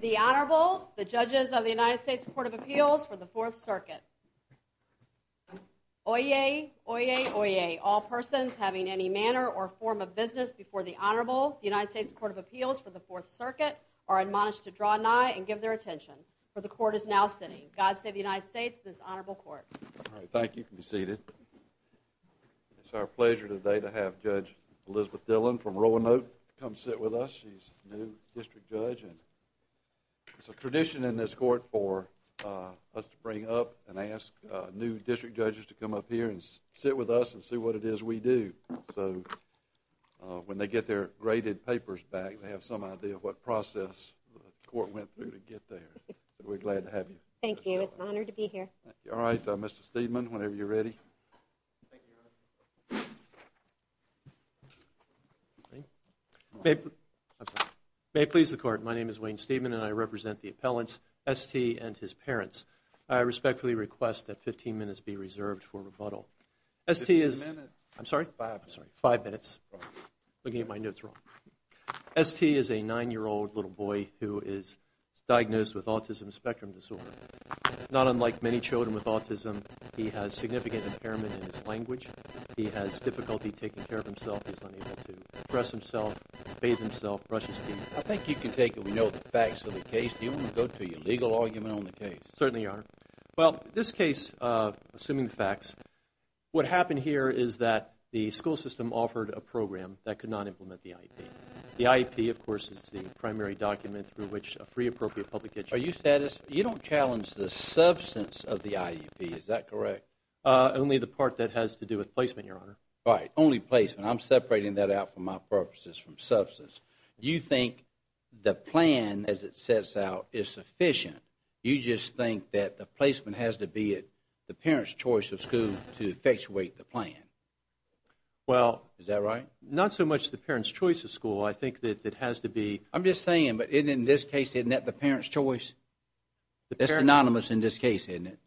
The Honorable, the Judges of the United States Court of Appeals for the Fourth Circuit. Oyez, oyez, oyez, all persons having any manner or form of business before the Honorable, the United States Court of Appeals for the Fourth Circuit, are admonished to draw nigh and give their attention, for the Court is now sitting. God save the United States and this Honorable Court. Thank you. You can be seated. It's our pleasure today to have Judge Elizabeth Dillon from Roanoke come sit with us. She's a new district judge and it's a tradition in this court for us to bring up and ask new district judges to come up here and sit with us and see what it is we do. So when they get their graded papers back, they have some idea of what process the court went through to get there. We're glad to have you. Thank you. It's an honor to be here. All right, Mr. Steedman, whenever you're ready. May it please the Court, my name is Wayne Steedman and I represent the appellants, S.T. and his parents. I respectfully request that 15 minutes be reserved for rebuttal. Fifteen minutes. I'm sorry? Five minutes. Looking at my notes wrong. S.T. is a nine-year-old little boy who is diagnosed with autism spectrum disorder. Not unlike many children with autism, he has significant impairment in his language. He has difficulty taking care of himself. He's unable to dress himself, bathe himself, brush his teeth. I think you can take a note of the facts of the case. Do you want to go to your legal argument on the case? Certainly, Your Honor. Well, this case, assuming the facts, what happened here is that the school system offered a program that could not implement the IEP. The IEP, of course, is the primary document through which a free appropriate public education Are you satisfied? You don't challenge the substance of the IEP, is that correct? Only the part that has to do with placement, Your Honor. Right, only placement. I'm separating that out for my purposes from substance. You think the plan, as it sets out, is sufficient. You just think that the placement has to be at the parent's choice of school to effectuate the plan. Well, Is that right? Not so much the parent's choice of school. I think that it has to be I'm just saying, but in this case, isn't that the parent's choice? It's synonymous in this case, isn't it?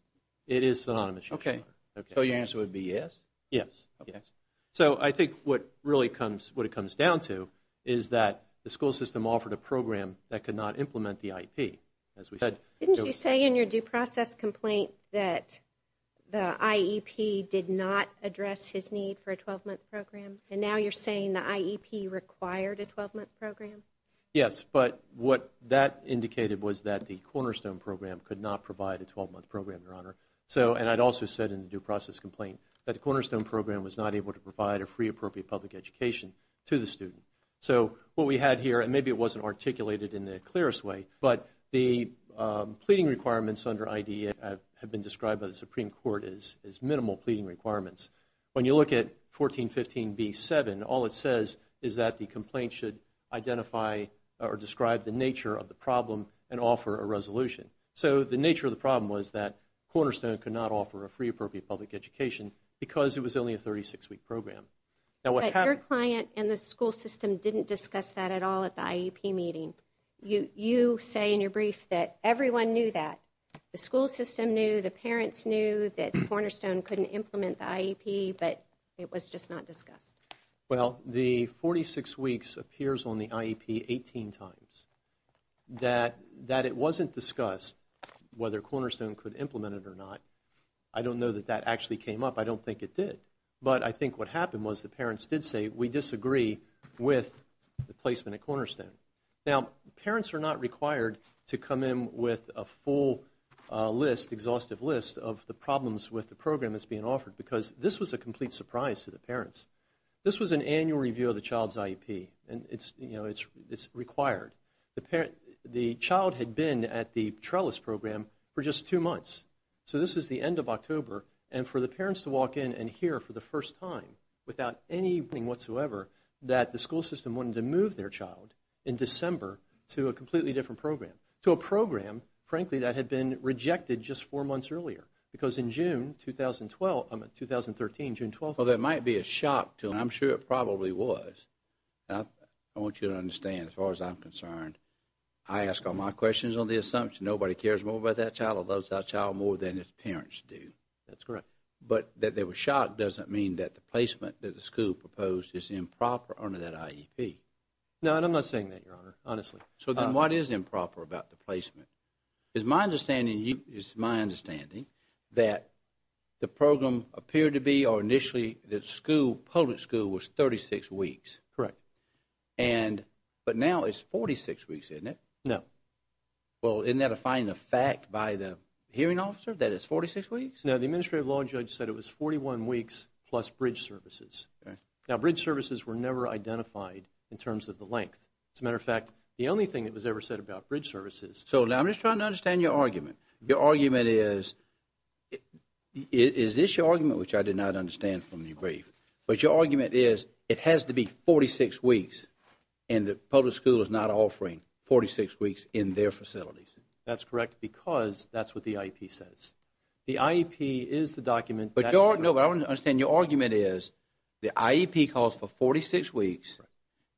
It is synonymous, Your Honor. So your answer would be yes? Yes. So I think what it really comes down to is that the school system offered a program that could not implement the IEP. Didn't you say in your due process complaint that the IEP did not address his need for a 12-month program? And now you're saying the IEP required a 12-month program? Yes, but what that indicated was that the Cornerstone Program could not provide a 12-month program, Your Honor. And I'd also said in the due process complaint that the Cornerstone Program was not able to provide a free appropriate public education to the student. So what we had here, and maybe it wasn't articulated in the clearest way, but the pleading requirements under IDEA have been described by the Supreme Court as minimal pleading requirements. When you look at 1415B7, all it says is that the complaint should identify or describe the nature of the problem and offer a resolution. So the nature of the problem was that Cornerstone could not offer a free appropriate public education because it was only a 36-week program. But your client and the school system didn't discuss that at all at the IEP meeting. You say in your brief that everyone knew that. The school system knew, the parents knew that Cornerstone couldn't implement the IEP, but it was just not discussed. Well, the 46 weeks appears on the IEP 18 times. That it wasn't discussed whether Cornerstone could implement it or not, I don't know that that actually came up. I don't think it did. But I think what happened was the parents did say, we disagree with the placement at Cornerstone. Now, parents are not required to come in with a full list, exhaustive list, of the problems with the program that's being offered because this was a complete surprise to the parents. This was an annual review of the child's IEP, and it's required. The child had been at the trellis program for just two months. So this is the end of October, and for the parents to walk in and hear for the first time, without any warning whatsoever, that the school system wanted to move their child in December to a completely different program. To a program, frankly, that had been rejected just four months earlier. Because in June 2013, June 12th... Well, that might be a shock to them. I'm sure it probably was. I want you to understand, as far as I'm concerned, I ask all my questions on the assumption nobody cares more about that child or loves that child more than its parents do. That's correct. But that they were shocked doesn't mean that the placement that the school proposed is improper under that IEP. No, and I'm not saying that, Your Honor, honestly. So then what is improper about the placement? It's my understanding that the program appeared to be, or initially the school, public school, was 36 weeks. Correct. But now it's 46 weeks, isn't it? No. Well, isn't that a fine of fact by the hearing officer, that it's 46 weeks? No, the administrative law judge said it was 41 weeks plus bridge services. Now, bridge services were never identified in terms of the length. As a matter of fact, the only thing that was ever said about bridge services... So now I'm just trying to understand your argument. Your argument is, is this your argument, which I did not understand from your brief, but your argument is it has to be 46 weeks and the public school is not offering 46 weeks in their facilities. That's correct because that's what the IEP says. The IEP is the document that... No, but I want to understand your argument is the IEP calls for 46 weeks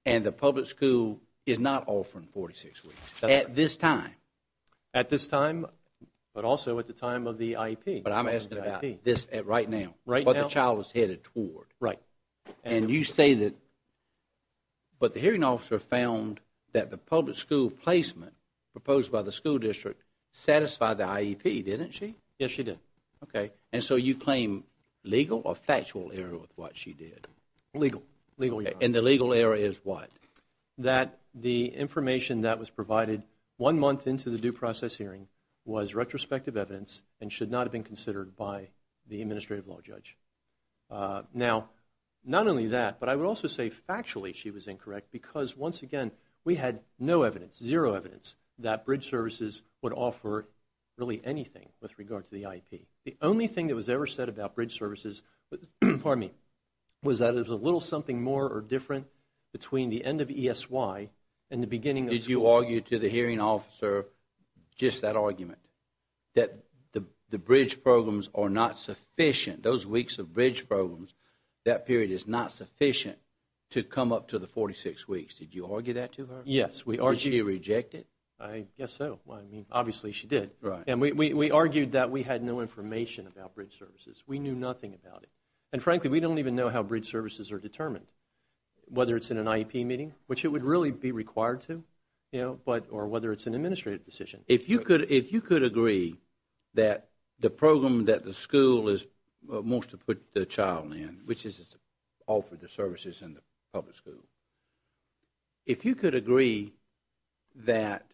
and the public school is not offering 46 weeks at this time. At this time, but also at the time of the IEP. But I'm asking about this right now. Right now. What the child is headed toward. Right. And you say that, but the hearing officer found that the public school placement proposed by the school district satisfied the IEP, didn't she? Yes, she did. Okay. And so you claim legal or factual error with what she did? Legal. And the legal error is what? That the information that was provided one month into the due process hearing was retrospective evidence and should not have been considered by the administrative law judge. Now, not only that, but I would also say factually she was incorrect because, once again, we had no evidence, zero evidence, that bridge services would offer really anything with regard to the IEP. The only thing that was ever said about bridge services, pardon me, was that it was a little something more or different between the end of ESY and the beginning of school. Did you argue to the hearing officer just that argument, that the bridge programs are not sufficient, those weeks of bridge programs, that period is not sufficient to come up to the 46 weeks? Did you argue that to her? Yes, we argued. Did she reject it? I guess so. I mean, obviously she did. Right. And we argued that we had no information about bridge services. We knew nothing about it. And, frankly, we don't even know how bridge services are determined, whether it's in an IEP meeting, which it would really be required to, or whether it's an administrative decision. If you could agree that the program that the school wants to put the child in, which is to offer the services in the public school, if you could agree that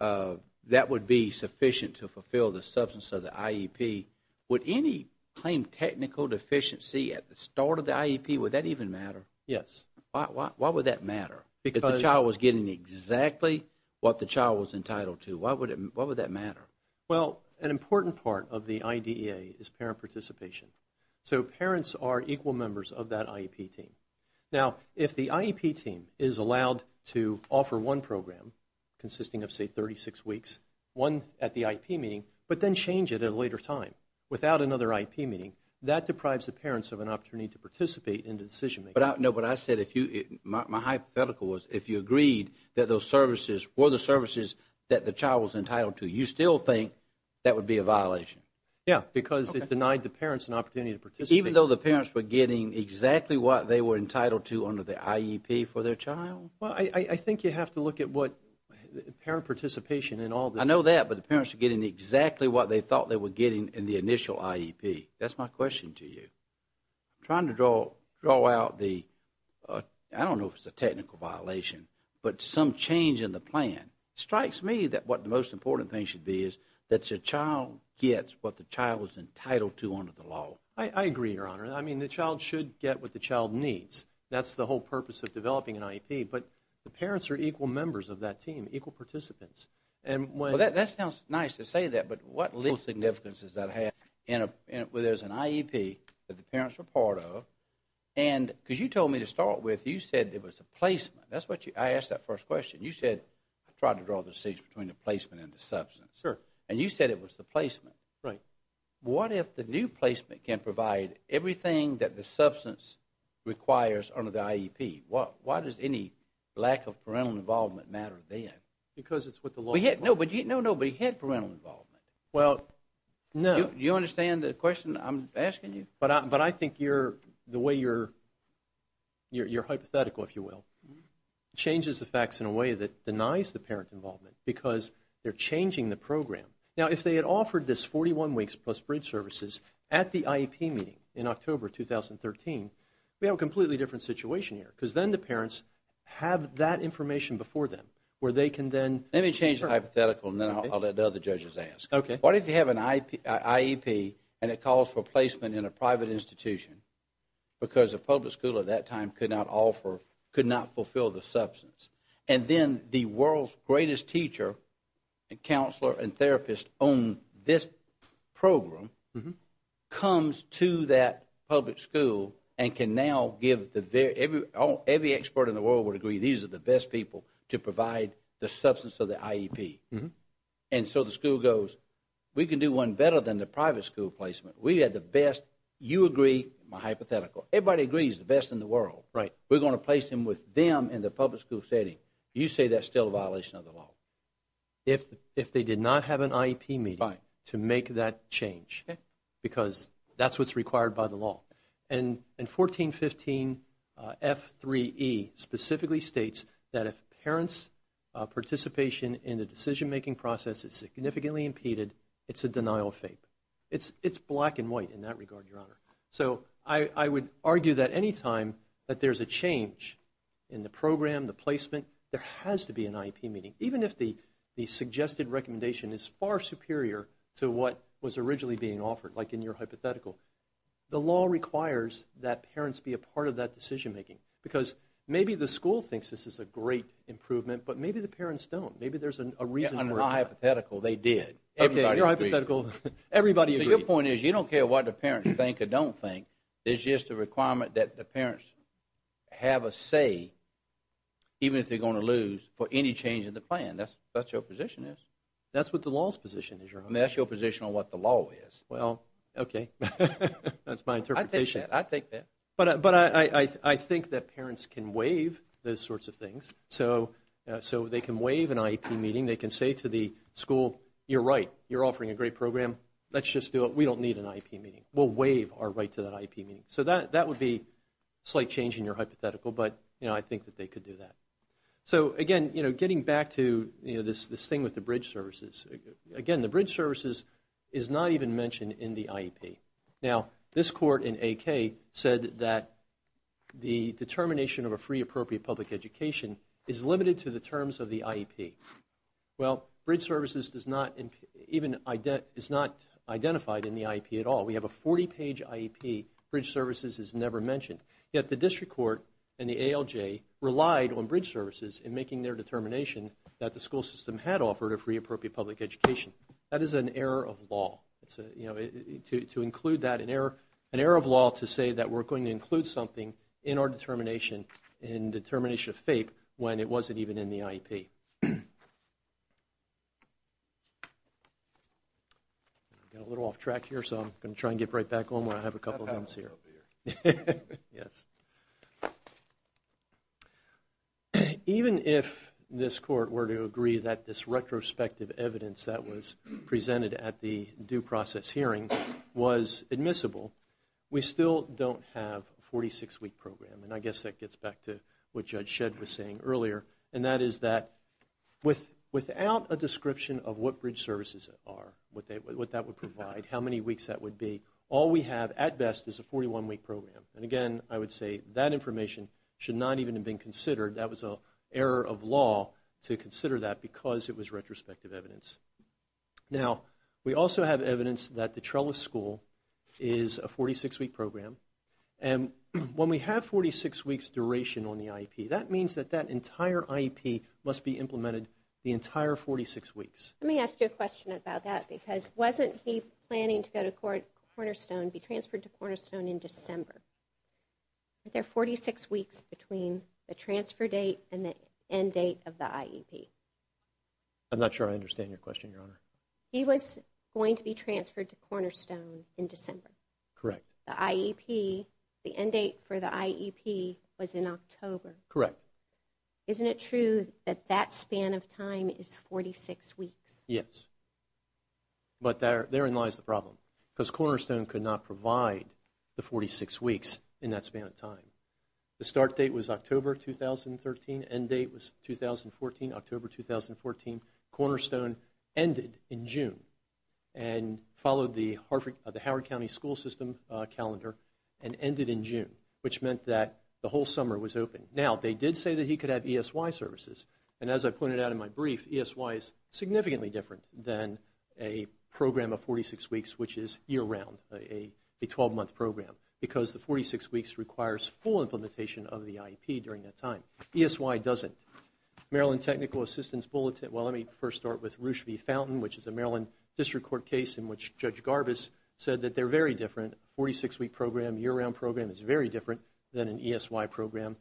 that would be sufficient to fulfill the substance of the IEP, would any claimed technical deficiency at the start of the IEP, would that even matter? Yes. Why would that matter? Because the child was getting exactly what the child was entitled to. Why would that matter? Well, an important part of the IDEA is parent participation. So parents are equal members of that IEP team. Now, if the IEP team is allowed to offer one program consisting of, say, 36 weeks, one at the IEP meeting, but then change it at a later time without another IEP meeting, that deprives the parents of an opportunity to participate in the decision-making. No, but I said my hypothetical was if you agreed that those services were the services that the child was entitled to, you still think that would be a violation? Yes, because it denied the parents an opportunity to participate. Even though the parents were getting exactly what they were entitled to under the IEP for their child? Well, I think you have to look at what parent participation in all this. I know that, but the parents were getting exactly what they thought they were getting in the initial IEP. That's my question to you. I'm trying to draw out the, I don't know if it's a technical violation, but some change in the plan. It strikes me that what the most important thing should be is that your child gets what the child is entitled to under the law. I agree, Your Honor. I mean, the child should get what the child needs. That's the whole purpose of developing an IEP. But the parents are equal members of that team, equal participants. Well, that sounds nice to say that, but what little significance does that have? Well, there's an IEP that the parents are part of. And because you told me to start with, you said it was a placement. That's what you, I asked that first question. You said, I tried to draw the distinction between the placement and the substance. Sure. And you said it was the placement. Right. What if the new placement can provide everything that the substance requires under the IEP? Why does any lack of parental involvement matter then? Because it's what the law requires. No, but he had parental involvement. Well, no. Do you understand the question I'm asking you? But I think the way you're hypothetical, if you will, changes the facts in a way that denies the parent involvement because they're changing the program. Now, if they had offered this 41 weeks plus bridge services at the IEP meeting in October 2013, we have a completely different situation here because then the parents have that information before them where they can then – Let me change the hypothetical and then I'll let the other judges ask. Okay. What if you have an IEP and it calls for placement in a private institution because a public school at that time could not offer, could not fulfill the substance? And then the world's greatest teacher and counselor and therapist on this program comes to that public school and can now give the – every expert in the world would agree these are the best people to provide the substance of the IEP. And so the school goes, we can do one better than the private school placement. We have the best – you agree, my hypothetical. Everybody agrees it's the best in the world. We're going to place them with them in the public school setting. You say that's still a violation of the law. If they did not have an IEP meeting to make that change because that's what's required by the law. And 1415 F3E specifically states that if parents' participation in the decision-making process is significantly impeded, it's a denial of faith. It's black and white in that regard, Your Honor. So I would argue that anytime that there's a change in the program, the placement, there has to be an IEP meeting, even if the suggested recommendation is far superior to what was originally being offered, like in your hypothetical. The law requires that parents be a part of that decision-making because maybe the school thinks this is a great improvement, but maybe the parents don't. Maybe there's a reason – In my hypothetical, they did. Okay, in your hypothetical, everybody agrees. Your point is you don't care what the parents think or don't think. It's just a requirement that the parents have a say, even if they're going to lose, for any change in the plan. That's what your position is. That's what the law's position is, Your Honor. And that's your position on what the law is. Well, okay. That's my interpretation. I take that. But I think that parents can waive those sorts of things. So they can waive an IEP meeting. They can say to the school, You're right, you're offering a great program. Let's just do it. We don't need an IEP meeting. We'll waive our right to that IEP meeting. So that would be a slight change in your hypothetical, but I think that they could do that. So, again, getting back to this thing with the bridge services, again, the bridge services is not even mentioned in the IEP. Now, this court in AK said that the determination of a free, appropriate public education is limited to the terms of the IEP. Well, bridge services is not identified in the IEP at all. We have a 40-page IEP. Bridge services is never mentioned. Yet the district court and the ALJ relied on bridge services in making their determination that the school system had offered a free, appropriate public education. That is an error of law. To include that, an error of law to say that we're going to include something in our determination in determination of FAPE when it wasn't even in the IEP. I got a little off track here, so I'm going to try and get right back on where I have a couple of minutes here. Yes. Even if this court were to agree that this retrospective evidence that was presented at the due process hearing was admissible, we still don't have a 46-week program. And I guess that gets back to what Judge Shedd was saying earlier, and that is that without a description of what bridge services are, what that would provide, how many weeks that would be, all we have at best is a 41-week program. And again, I would say that information should not even have been considered. That was an error of law to consider that because it was retrospective evidence. Now, we also have evidence that the Trellis School is a 46-week program. And when we have 46 weeks duration on the IEP, that means that that entire IEP must be implemented the entire 46 weeks. Let me ask you a question about that because wasn't he planning to go to Cornerstone, be transferred to Cornerstone in December? There are 46 weeks between the transfer date and the end date of the IEP. I'm not sure I understand your question, Your Honor. He was going to be transferred to Cornerstone in December. Correct. The IEP, the end date for the IEP was in October. Correct. Isn't it true that that span of time is 46 weeks? Yes. But therein lies the problem because Cornerstone could not provide the 46 weeks in that span of time. The start date was October 2013, end date was 2014, October 2014. Cornerstone ended in June and followed the Howard County School System calendar and ended in June, which meant that the whole summer was open. Now, they did say that he could have ESY services. And as I pointed out in my brief, ESY is significantly different than a program of 46 weeks, which is year-round, a 12-month program, because the 46 weeks requires full implementation of the IEP during that time. ESY doesn't. Maryland Technical Assistance Bulletin, well, let me first start with Roosh V. Fountain, which is a Maryland District Court case in which Judge Garbus said that they're very different. A 46-week program, year-round program is very different than an ESY program.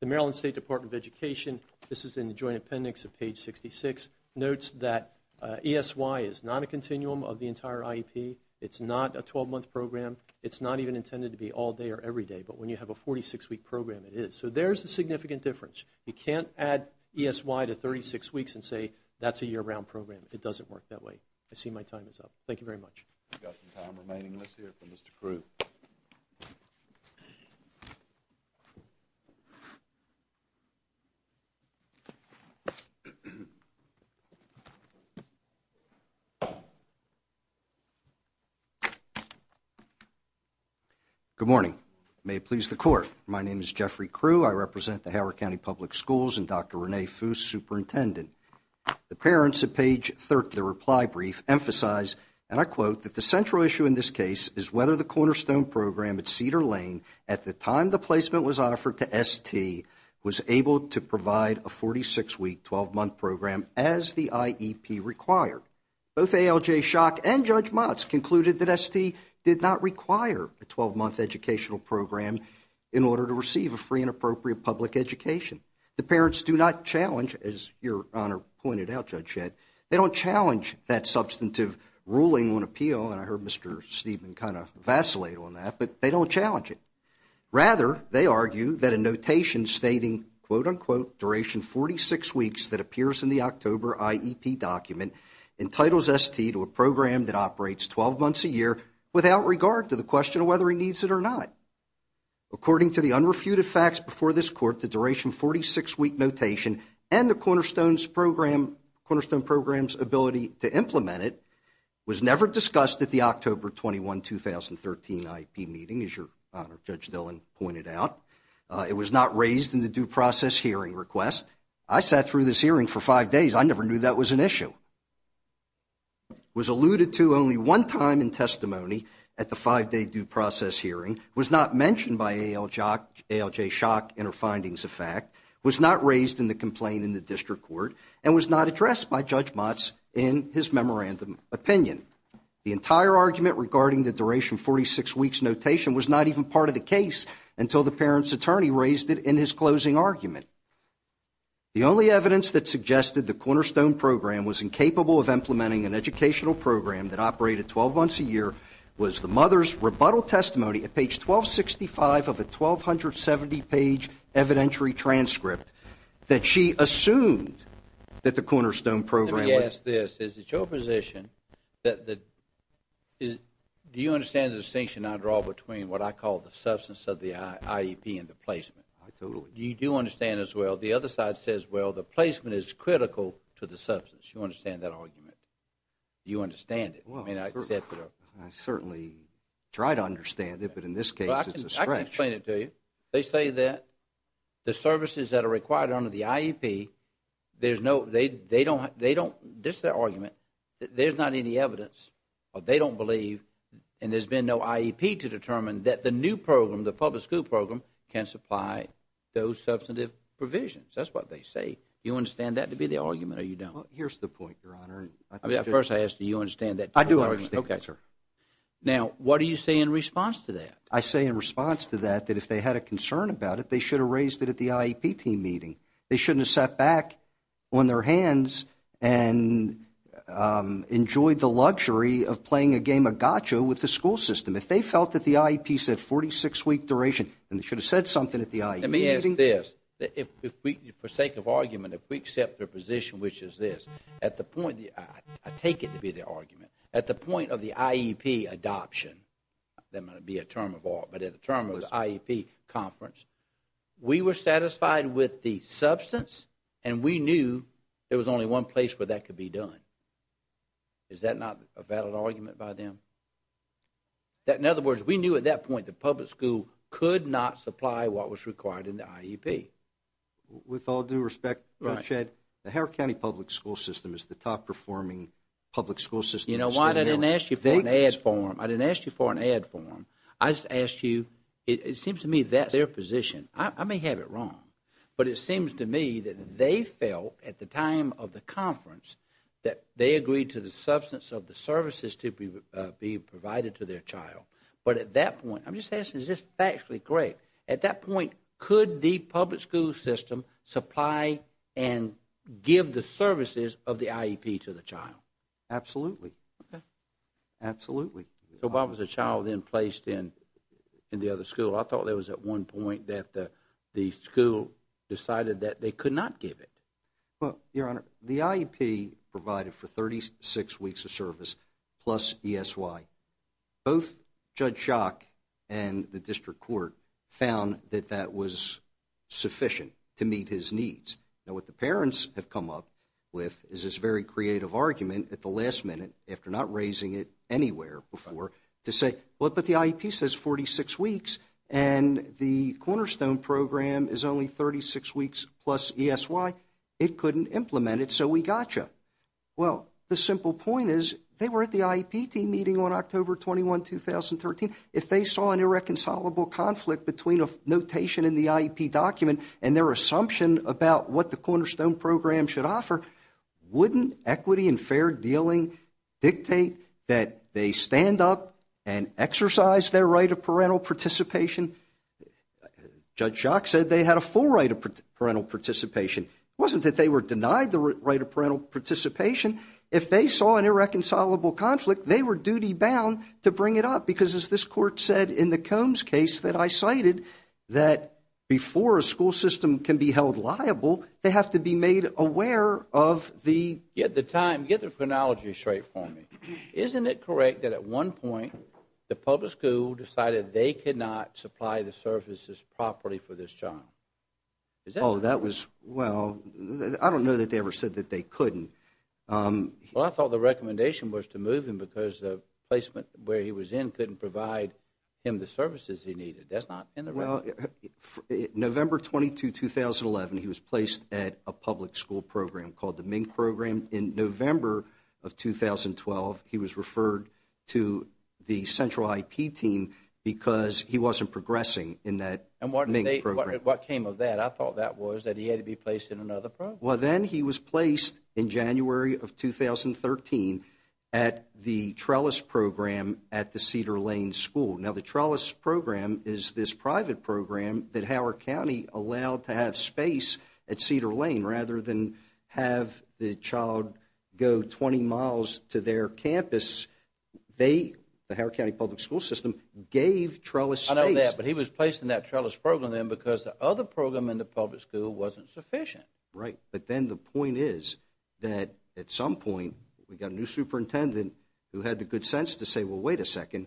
The Maryland State Department of Education, this is in the joint appendix of page 66, notes that ESY is not a continuum of the entire IEP. It's not a 12-month program. It's not even intended to be all day or every day. But when you have a 46-week program, it is. So there's a significant difference. You can't add ESY to 36 weeks and say that's a year-round program. It doesn't work that way. I see my time is up. Thank you very much. We've got some time remaining. Let's hear from Mr. Crew. Good morning. May it please the Court, my name is Jeffrey Crew. I represent the Howard County Public Schools and Dr. Renee Foos, Superintendent. The parents at page 30 of the reply brief emphasize, and I quote, that the central issue in this case is whether the Cornerstone Program at Cedar Lane, at the time the placement was offered to ST, was able to provide a 46-week, 12-month program as the IEP required. Both ALJ Schock and Judge Motz concluded that ST did not require a 12-month educational program in order to receive a free and appropriate public education. The parents do not challenge, as Your Honor pointed out, Judge Shedd, they don't challenge that substantive ruling on appeal, and I heard Mr. Steedman kind of vacillate on that, but they don't challenge it. Rather, they argue that a notation stating, quote, unquote, duration 46 weeks that appears in the October IEP document, entitles ST to a program that operates 12 months a year without regard to the question of whether he needs it or not. According to the unrefuted facts before this court, the duration 46-week notation and the Cornerstone Program's ability to implement it was never discussed at the October 21, 2013 IEP meeting, as Your Honor, Judge Dillon pointed out. It was not raised in the due process hearing request. I sat through this hearing for five days. I never knew that was an issue. It was alluded to only one time in testimony at the five-day due process hearing. It was not mentioned by ALJ Shock in her findings of fact, was not raised in the complaint in the district court, and was not addressed by Judge Motz in his memorandum opinion. The entire argument regarding the duration 46 weeks notation was not even part of the case until the parent's attorney raised it in his closing argument. The only evidence that suggested the Cornerstone Program was incapable of implementing an educational program that operated 12 months a year was the mother's rebuttal testimony at page 1265 of a 1270-page evidentiary transcript that she assumed that the Cornerstone Program was. Let me ask this. Is it your position that the do you understand the distinction I draw between what I call the substance of the IEP and the placement? I totally do. You do understand as well. The other side says, well, the placement is critical to the substance. Do you understand that argument? Do you understand it? I certainly try to understand it, but in this case it's a stretch. I can explain it to you. They say that the services that are required under the IEP, this is their argument, there's not any evidence, or they don't believe and there's been no IEP to determine that the new program, the public school program, can supply those substantive provisions. That's what they say. Do you understand that to be the argument or you don't? Here's the point, Your Honor. First I ask that you understand that. I do understand. Okay. Now, what do you say in response to that? I say in response to that that if they had a concern about it, they should have raised it at the IEP team meeting. They shouldn't have sat back on their hands and enjoyed the luxury of playing a game of gotcha with the school system. If they felt that the IEP said 46-week duration, then they should have said something at the IEP meeting. Let me ask this. For sake of argument, if we accept their position, which is this, at the point, I take it to be their argument, at the point of the IEP adoption, that might be a term of all, but at the term of the IEP conference, we were satisfied with the substance and we knew there was only one place where that could be done. Is that not a valid argument by them? In other words, we knew at that point the public school could not supply what was required in the IEP. With all due respect, Mr. Chad, the Howard County Public School System is the top performing public school system. You know what, I didn't ask you for an ad for them. I didn't ask you for an ad for them. I just asked you, it seems to me that's their position. I may have it wrong, but it seems to me that they felt at the time of the conference that they agreed to the substance of the services to be provided to their child. But at that point, I'm just asking, is this factually correct? At that point, could the public school system supply and give the services of the IEP to the child? Absolutely. Absolutely. So why was the child then placed in the other school? I thought it was at one point that the school decided that they could not give it. Well, Your Honor, the IEP provided for 36 weeks of service plus ESY. Both Judge Schock and the district court found that that was sufficient to meet his needs. Now, what the parents have come up with is this very creative argument at the last minute, after not raising it anywhere before, to say, well, but the IEP says 46 weeks and the Cornerstone program is only 36 weeks plus ESY. It couldn't implement it, so we got you. Well, the simple point is they were at the IEP team meeting on October 21, 2013. If they saw an irreconcilable conflict between a notation in the IEP document and their assumption about what the Cornerstone program should offer, wouldn't equity and fair dealing dictate that they stand up and exercise their right of parental participation? Judge Schock said they had a full right of parental participation. It wasn't that they were denied the right of parental participation. If they saw an irreconcilable conflict, they were duty-bound to bring it up because, as this Court said in the Combs case that I cited, that before a school system can be held liable, they have to be made aware of the- Get the chronology straight for me. Isn't it correct that at one point the public school decided they could not supply the services properly for this child? Oh, that was, well, I don't know that they ever said that they couldn't. Well, I thought the recommendation was to move him because the placement where he was in couldn't provide him the services he needed. That's not in the record. November 22, 2011, he was placed at a public school program called the MINK program. In November of 2012, he was referred to the central IEP team because he wasn't progressing in that MINK program. And what came of that? I thought that was that he had to be placed in another program. Well, then he was placed in January of 2013 at the trellis program at the Cedar Lane School. Now, the trellis program is this private program that Howard County allowed to have space at Cedar Lane. Rather than have the child go 20 miles to their campus, they, the Howard County Public School System, gave trellis space. I understand that, but he was placed in that trellis program then because the other program in the public school wasn't sufficient. Right, but then the point is that at some point, we got a new superintendent who had the good sense to say, well, wait a second,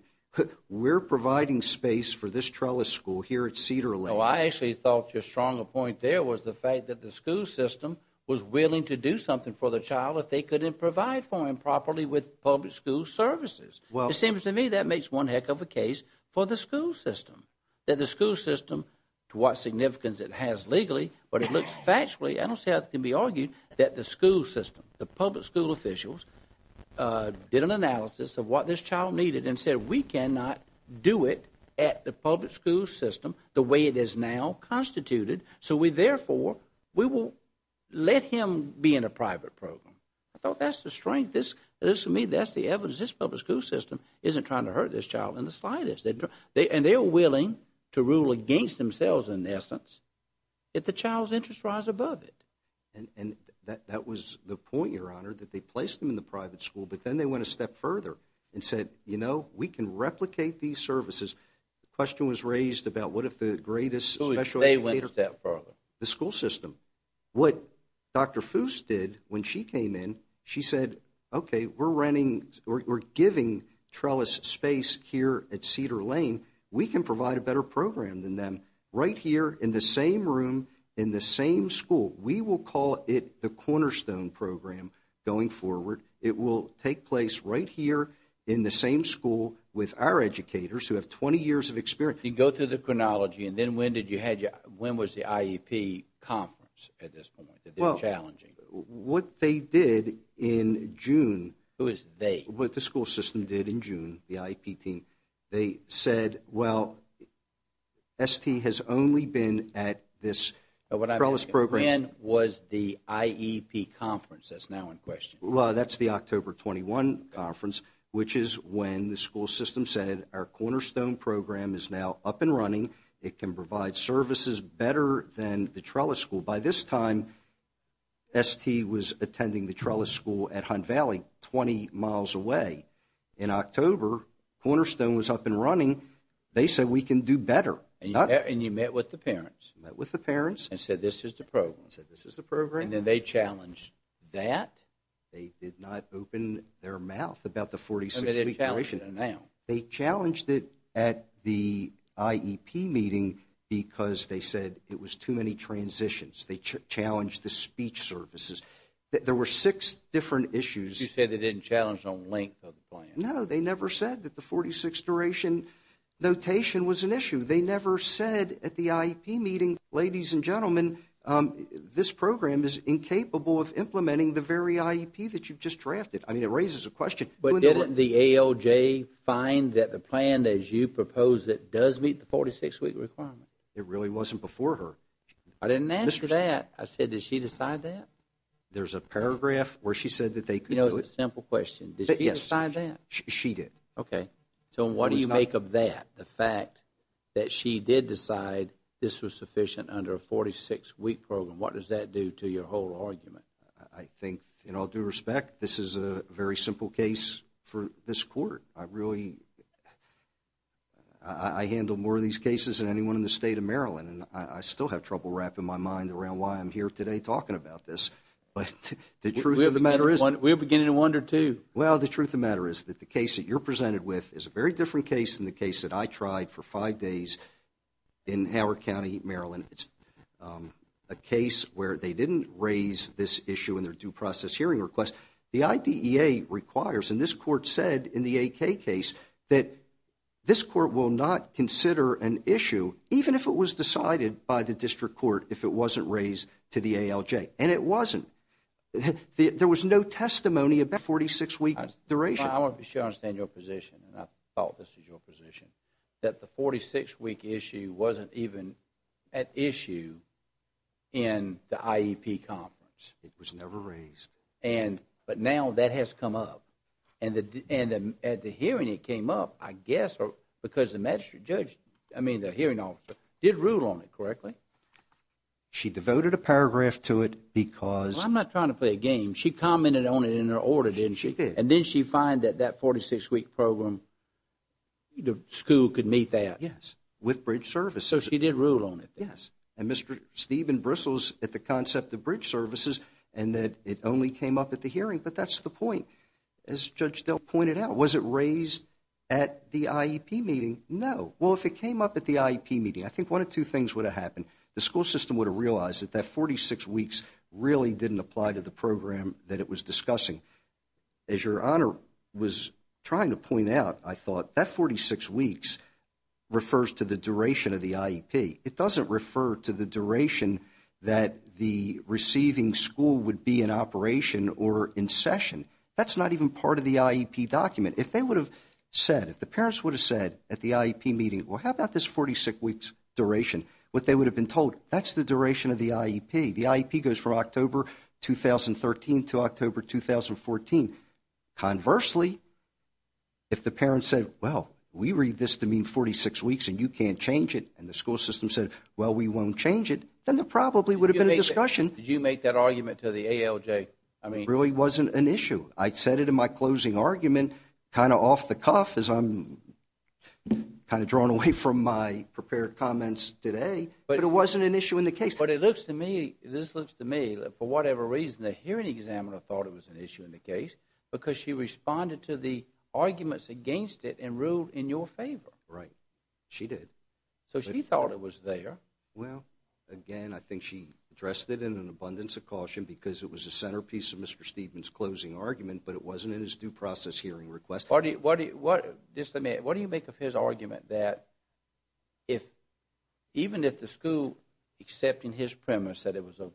we're providing space for this trellis school here at Cedar Lane. No, I actually thought your stronger point there was the fact that the school system was willing to do something for the child if they couldn't provide for him properly with public school services. It seems to me that makes one heck of a case for the school system. That the school system, to what significance it has legally, but it looks factually, I don't see how it can be argued, that the school system, the public school officials, did an analysis of what this child needed and said, we cannot do it at the public school system the way it is now constituted, so we therefore, we will let him be in a private program. I thought that's the strength. To me, that's the evidence. This public school system isn't trying to hurt this child in the slightest. And they are willing to rule against themselves, in essence, if the child's interest rise above it. And that was the point, Your Honor, that they placed him in the private school, but then they went a step further and said, you know, we can replicate these services. The question was raised about what if the greatest special educator… They went a step further. The school system. What Dr. Foos did when she came in, she said, okay, we're running, we're giving trellis space here at Cedar Lane. We can provide a better program than them right here in the same room, in the same school. We will call it the cornerstone program going forward. It will take place right here in the same school with our educators who have 20 years of experience. Go through the chronology, and then when was the IEP conference at this point that they were challenging? What they did in June… Who is they? What the school system did in June, the IEP team, they said, well, ST has only been at this trellis program… When was the IEP conference that's now in question? Well, that's the October 21 conference, which is when the school system said, our cornerstone program is now up and running. It can provide services better than the trellis school. By this time, ST was attending the trellis school at Hunt Valley, 20 miles away. In October, cornerstone was up and running. They said, we can do better. And you met with the parents? Met with the parents. And said, this is the program? Said, this is the program. And then they challenged that? They did not open their mouth about the 46-week duration. They challenged it at the IEP meeting because they said it was too many transitions. They challenged the speech services. There were six different issues. You said they didn't challenge the length of the plan. No, they never said that the 46-duration notation was an issue. They never said at the IEP meeting, ladies and gentlemen, this program is incapable of implementing the very IEP that you just drafted. I mean, it raises a question. But didn't the ALJ find that the plan as you proposed it does meet the 46-week requirement? It really wasn't before her. I didn't ask for that. I said, did she decide that? There's a paragraph where she said that they could do it. You know, it's a simple question. Did she decide that? She did. Okay. So what do you make of that, the fact that she did decide this was sufficient under a 46-week program? What does that do to your whole argument? I think, in all due respect, this is a very simple case for this court. I really ‑‑ I handle more of these cases than anyone in the state of Maryland. And I still have trouble wrapping my mind around why I'm here today talking about this. But the truth of the matter is ‑‑ We're beginning to wonder, too. Well, the truth of the matter is that the case that you're presented with is a very different case and it's a case where they didn't raise this issue in their due process hearing request. The IDEA requires, and this court said in the AK case, that this court will not consider an issue, even if it was decided by the district court, if it wasn't raised to the ALJ. And it wasn't. There was no testimony about the 46-week duration. I want to be sure I understand your position, and I thought this was your position, that the 46-week issue wasn't even at issue in the IEP conference. It was never raised. But now that has come up. And at the hearing it came up, I guess, because the magistrate judge, I mean, the hearing officer, did rule on it correctly. She devoted a paragraph to it because ‑‑ Well, I'm not trying to play a game. She commented on it in her order, didn't she? She did. And didn't she find that that 46-week program, the school could meet that? Yes, with bridge services. So she did rule on it? Yes. And Mr. Stephen bristles at the concept of bridge services and that it only came up at the hearing, but that's the point. As Judge Dell pointed out, was it raised at the IEP meeting? No. Well, if it came up at the IEP meeting, I think one of two things would have happened. The school system would have realized that that 46 weeks really didn't apply to the program that it was discussing. As Your Honor was trying to point out, I thought, that 46 weeks refers to the duration of the IEP. It doesn't refer to the duration that the receiving school would be in operation or in session. That's not even part of the IEP document. If they would have said, if the parents would have said at the IEP meeting, well, how about this 46 weeks duration, what they would have been told, that's the duration of the IEP. The IEP goes from October 2013 to October 2014. Conversely, if the parents said, well, we read this to mean 46 weeks and you can't change it, and the school system said, well, we won't change it, then there probably would have been a discussion. Did you make that argument to the ALJ? It really wasn't an issue. I said it in my closing argument, kind of off the cuff, as I'm kind of drawn away from my prepared comments today, but it wasn't an issue in the case. But it looks to me, this looks to me, for whatever reason, the hearing examiner thought it was an issue in the case because she responded to the arguments against it and ruled in your favor. Right. She did. So she thought it was there. Well, again, I think she addressed it in an abundance of caution because it was the centerpiece of Mr. Stevens' closing argument, but it wasn't in his due process hearing request. What do you make of his argument that even if the school, except in his premise that it was a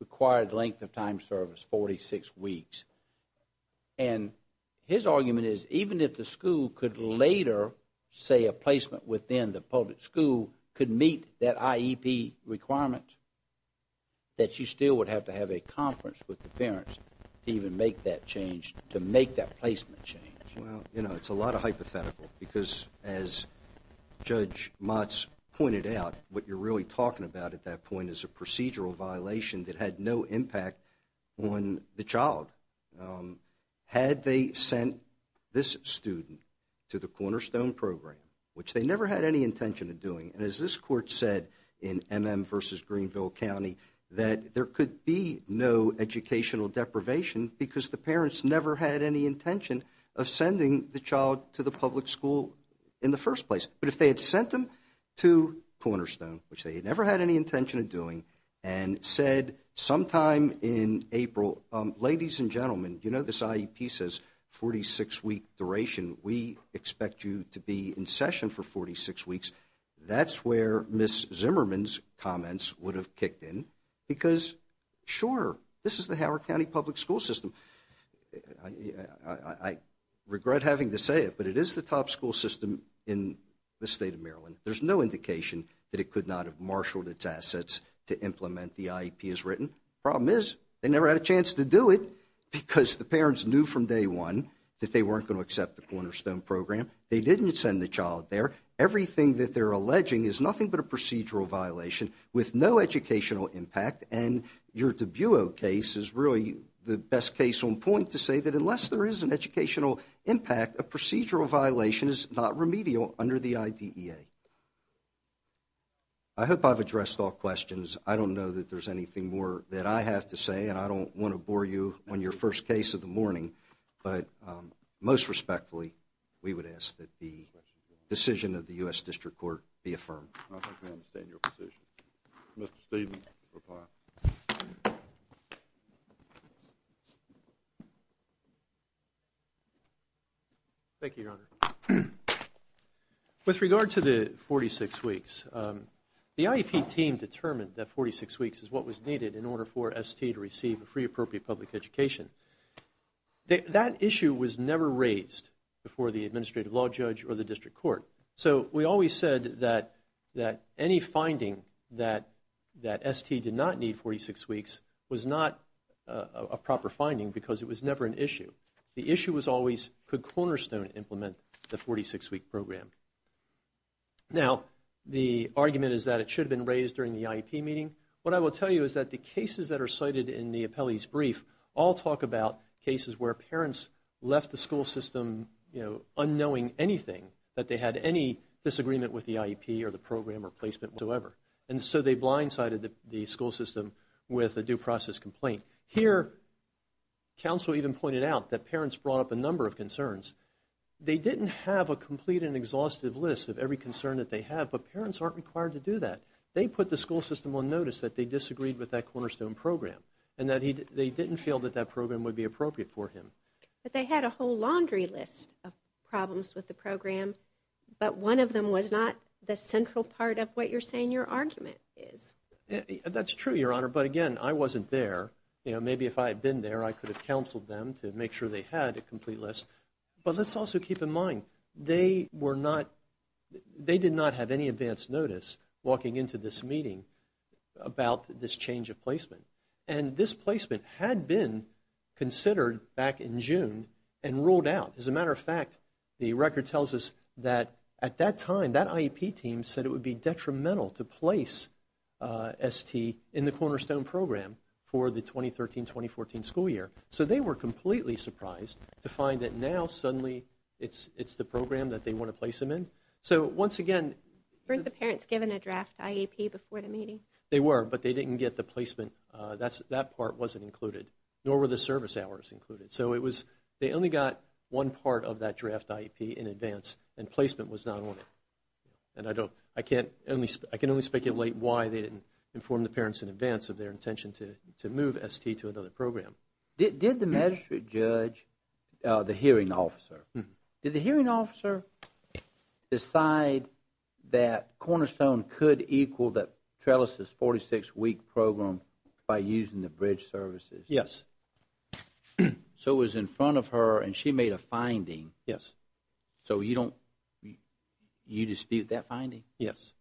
required length of time service, 46 weeks, and his argument is even if the school could later say a placement within the public school could meet that IEP requirement, that you still would have to have a conference with the parents to even make that change, to make that placement change? Well, you know, it's a lot of hypothetical because as Judge Motz pointed out, what you're really talking about at that point is a procedural violation that had no impact on the child. Had they sent this student to the Cornerstone program, which they never had any intention of doing, and as this court said in MM v. Greenville County, that there could be no educational deprivation because the parents never had any intention of sending the child to the public school in the first place. But if they had sent them to Cornerstone, which they had never had any intention of doing, and said sometime in April, ladies and gentlemen, you know this IEP says 46-week duration. We expect you to be in session for 46 weeks. That's where Ms. Zimmerman's comments would have kicked in because, sure, this is the Howard County public school system. I regret having to say it, but it is the top school system in the state of Maryland. There's no indication that it could not have marshaled its assets to implement the IEP as written. Problem is, they never had a chance to do it because the parents knew from day one that they weren't going to accept the Cornerstone program. They didn't send the child there. Everything that they're alleging is nothing but a procedural violation with no educational impact, and your DiBuo case is really the best case on point to say that unless there is an educational impact, a procedural violation is not remedial under the IDEA. I hope I've addressed all questions. I don't know that there's anything more that I have to say, and I don't want to bore you on your first case of the morning, but most respectfully, we would ask that the decision of the U.S. District Court be affirmed. I think we understand your position. Mr. Stevens will reply. Thank you, Your Honor. With regard to the 46 weeks, the IEP team determined that 46 weeks is what was needed in order for ST to receive a free appropriate public education. That issue was never raised before the administrative law judge or the District Court. So we always said that any finding that ST did not need 46 weeks was not a proper finding because it was never an issue. The issue was always, could Cornerstone implement the 46-week program? Now, the argument is that it should have been raised during the IEP meeting. What I will tell you is that the cases that are cited in the appellee's brief all talk about cases where parents left the school system, you know, unknowing anything, that they had any disagreement with the IEP or the program or placement whatsoever. And so they blindsided the school system with a due process complaint. Here, counsel even pointed out that parents brought up a number of concerns. They didn't have a complete and exhaustive list of every concern that they have, but parents aren't required to do that. They put the school system on notice that they disagreed with that Cornerstone program and that they didn't feel that that program would be appropriate for him. But they had a whole laundry list of problems with the program, but one of them was not the central part of what you're saying your argument is. That's true, Your Honor, but again, I wasn't there. You know, maybe if I had been there, I could have counseled them to make sure they had a complete list. But let's also keep in mind, they were not, they did not have any advance notice walking into this meeting about this change of placement. And this placement had been considered back in June and ruled out. As a matter of fact, the record tells us that at that time, that IEP team said it would be detrimental to place ST in the Cornerstone program for the 2013-2014 school year. So they were completely surprised to find that now, suddenly, it's the program that they want to place him in. So once again... Weren't the parents given a draft IEP before the meeting? They were, but they didn't get the placement. That part wasn't included, nor were the service hours included. So it was, they only got one part of that draft IEP in advance, and placement was not on it. And I can only speculate why they didn't inform the parents in advance of their intention to move ST to another program. Did the magistrate judge, the hearing officer, did the hearing officer decide that Cornerstone could equal Trellis's 46-week program by using the bridge services? Yes. So it was in front of her, and she made a finding. Yes. So you dispute that finding? Yes.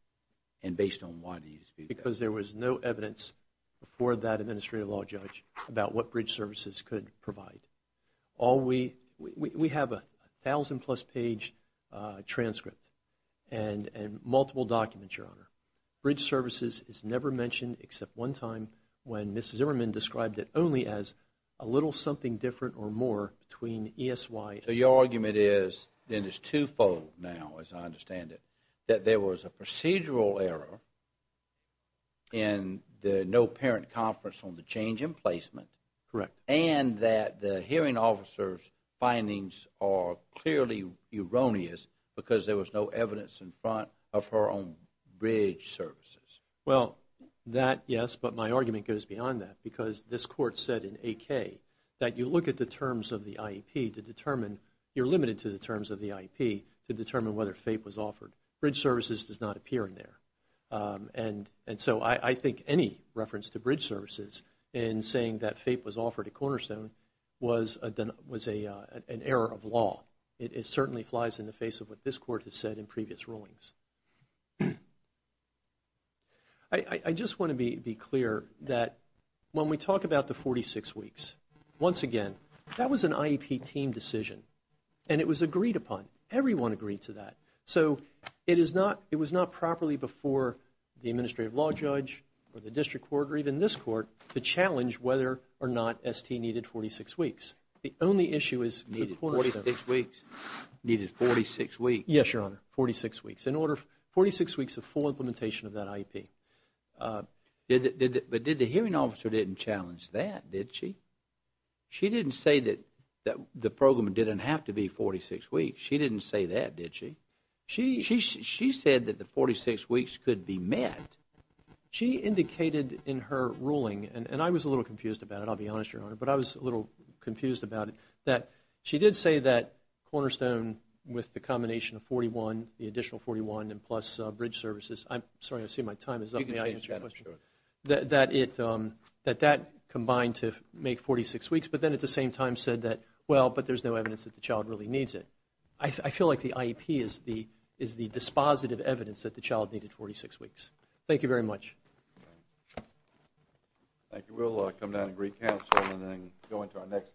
And based on why do you dispute that? Because there was no evidence before that administrative law judge about what bridge services could provide. We have a 1,000-plus page transcript and multiple documents, Your Honor. Bridge services is never mentioned except one time when Mrs. Zimmerman described it only as a little something different or more between ESY... So your argument is, and it's two-fold now as I understand it, that there was a procedural error in the no-parent conference on the change in placement... Correct. And that the hearing officer's findings are clearly erroneous because there was no evidence in front of her on bridge services. Well, that, yes, but my argument goes beyond that because this court said in AK that you look at the terms of the IEP to determine you're limited to the terms of the IEP to determine whether FAPE was offered. Bridge services does not appear in there. And so I think any reference to bridge services in saying that FAPE was offered at Cornerstone was an error of law. It certainly flies in the face of what this court has said in previous rulings. I just want to be clear that when we talk about the 46 weeks, once again, that was an IEP team decision, and it was agreed upon. Everyone agreed to that. So it was not properly before the administrative law judge or the district court or even this court to challenge whether or not ST needed 46 weeks. The only issue is Cornerstone. Needed 46 weeks. Needed 46 weeks. Yes, Your Honor. 46 weeks. In order, 46 weeks of full implementation of that IEP. But the hearing officer didn't challenge that, did she? She didn't say that the program didn't have to be 46 weeks. She didn't say that, did she? She said that the 46 weeks could be met. She indicated in her ruling, and I was a little confused about it, I'll be honest, Your Honor, but I was a little confused about it, that she did say that Cornerstone, with the combination of 41, the additional 41 and plus bridge services, I'm sorry, I see my time is up. May I answer your question? That that combined to make 46 weeks, but then at the same time said that, well, but there's no evidence that the child really needs it. I feel like the IEP is the dispositive evidence that the child needed 46 weeks. Thank you very much. Thank you. We'll come down and recast and then go into our next case.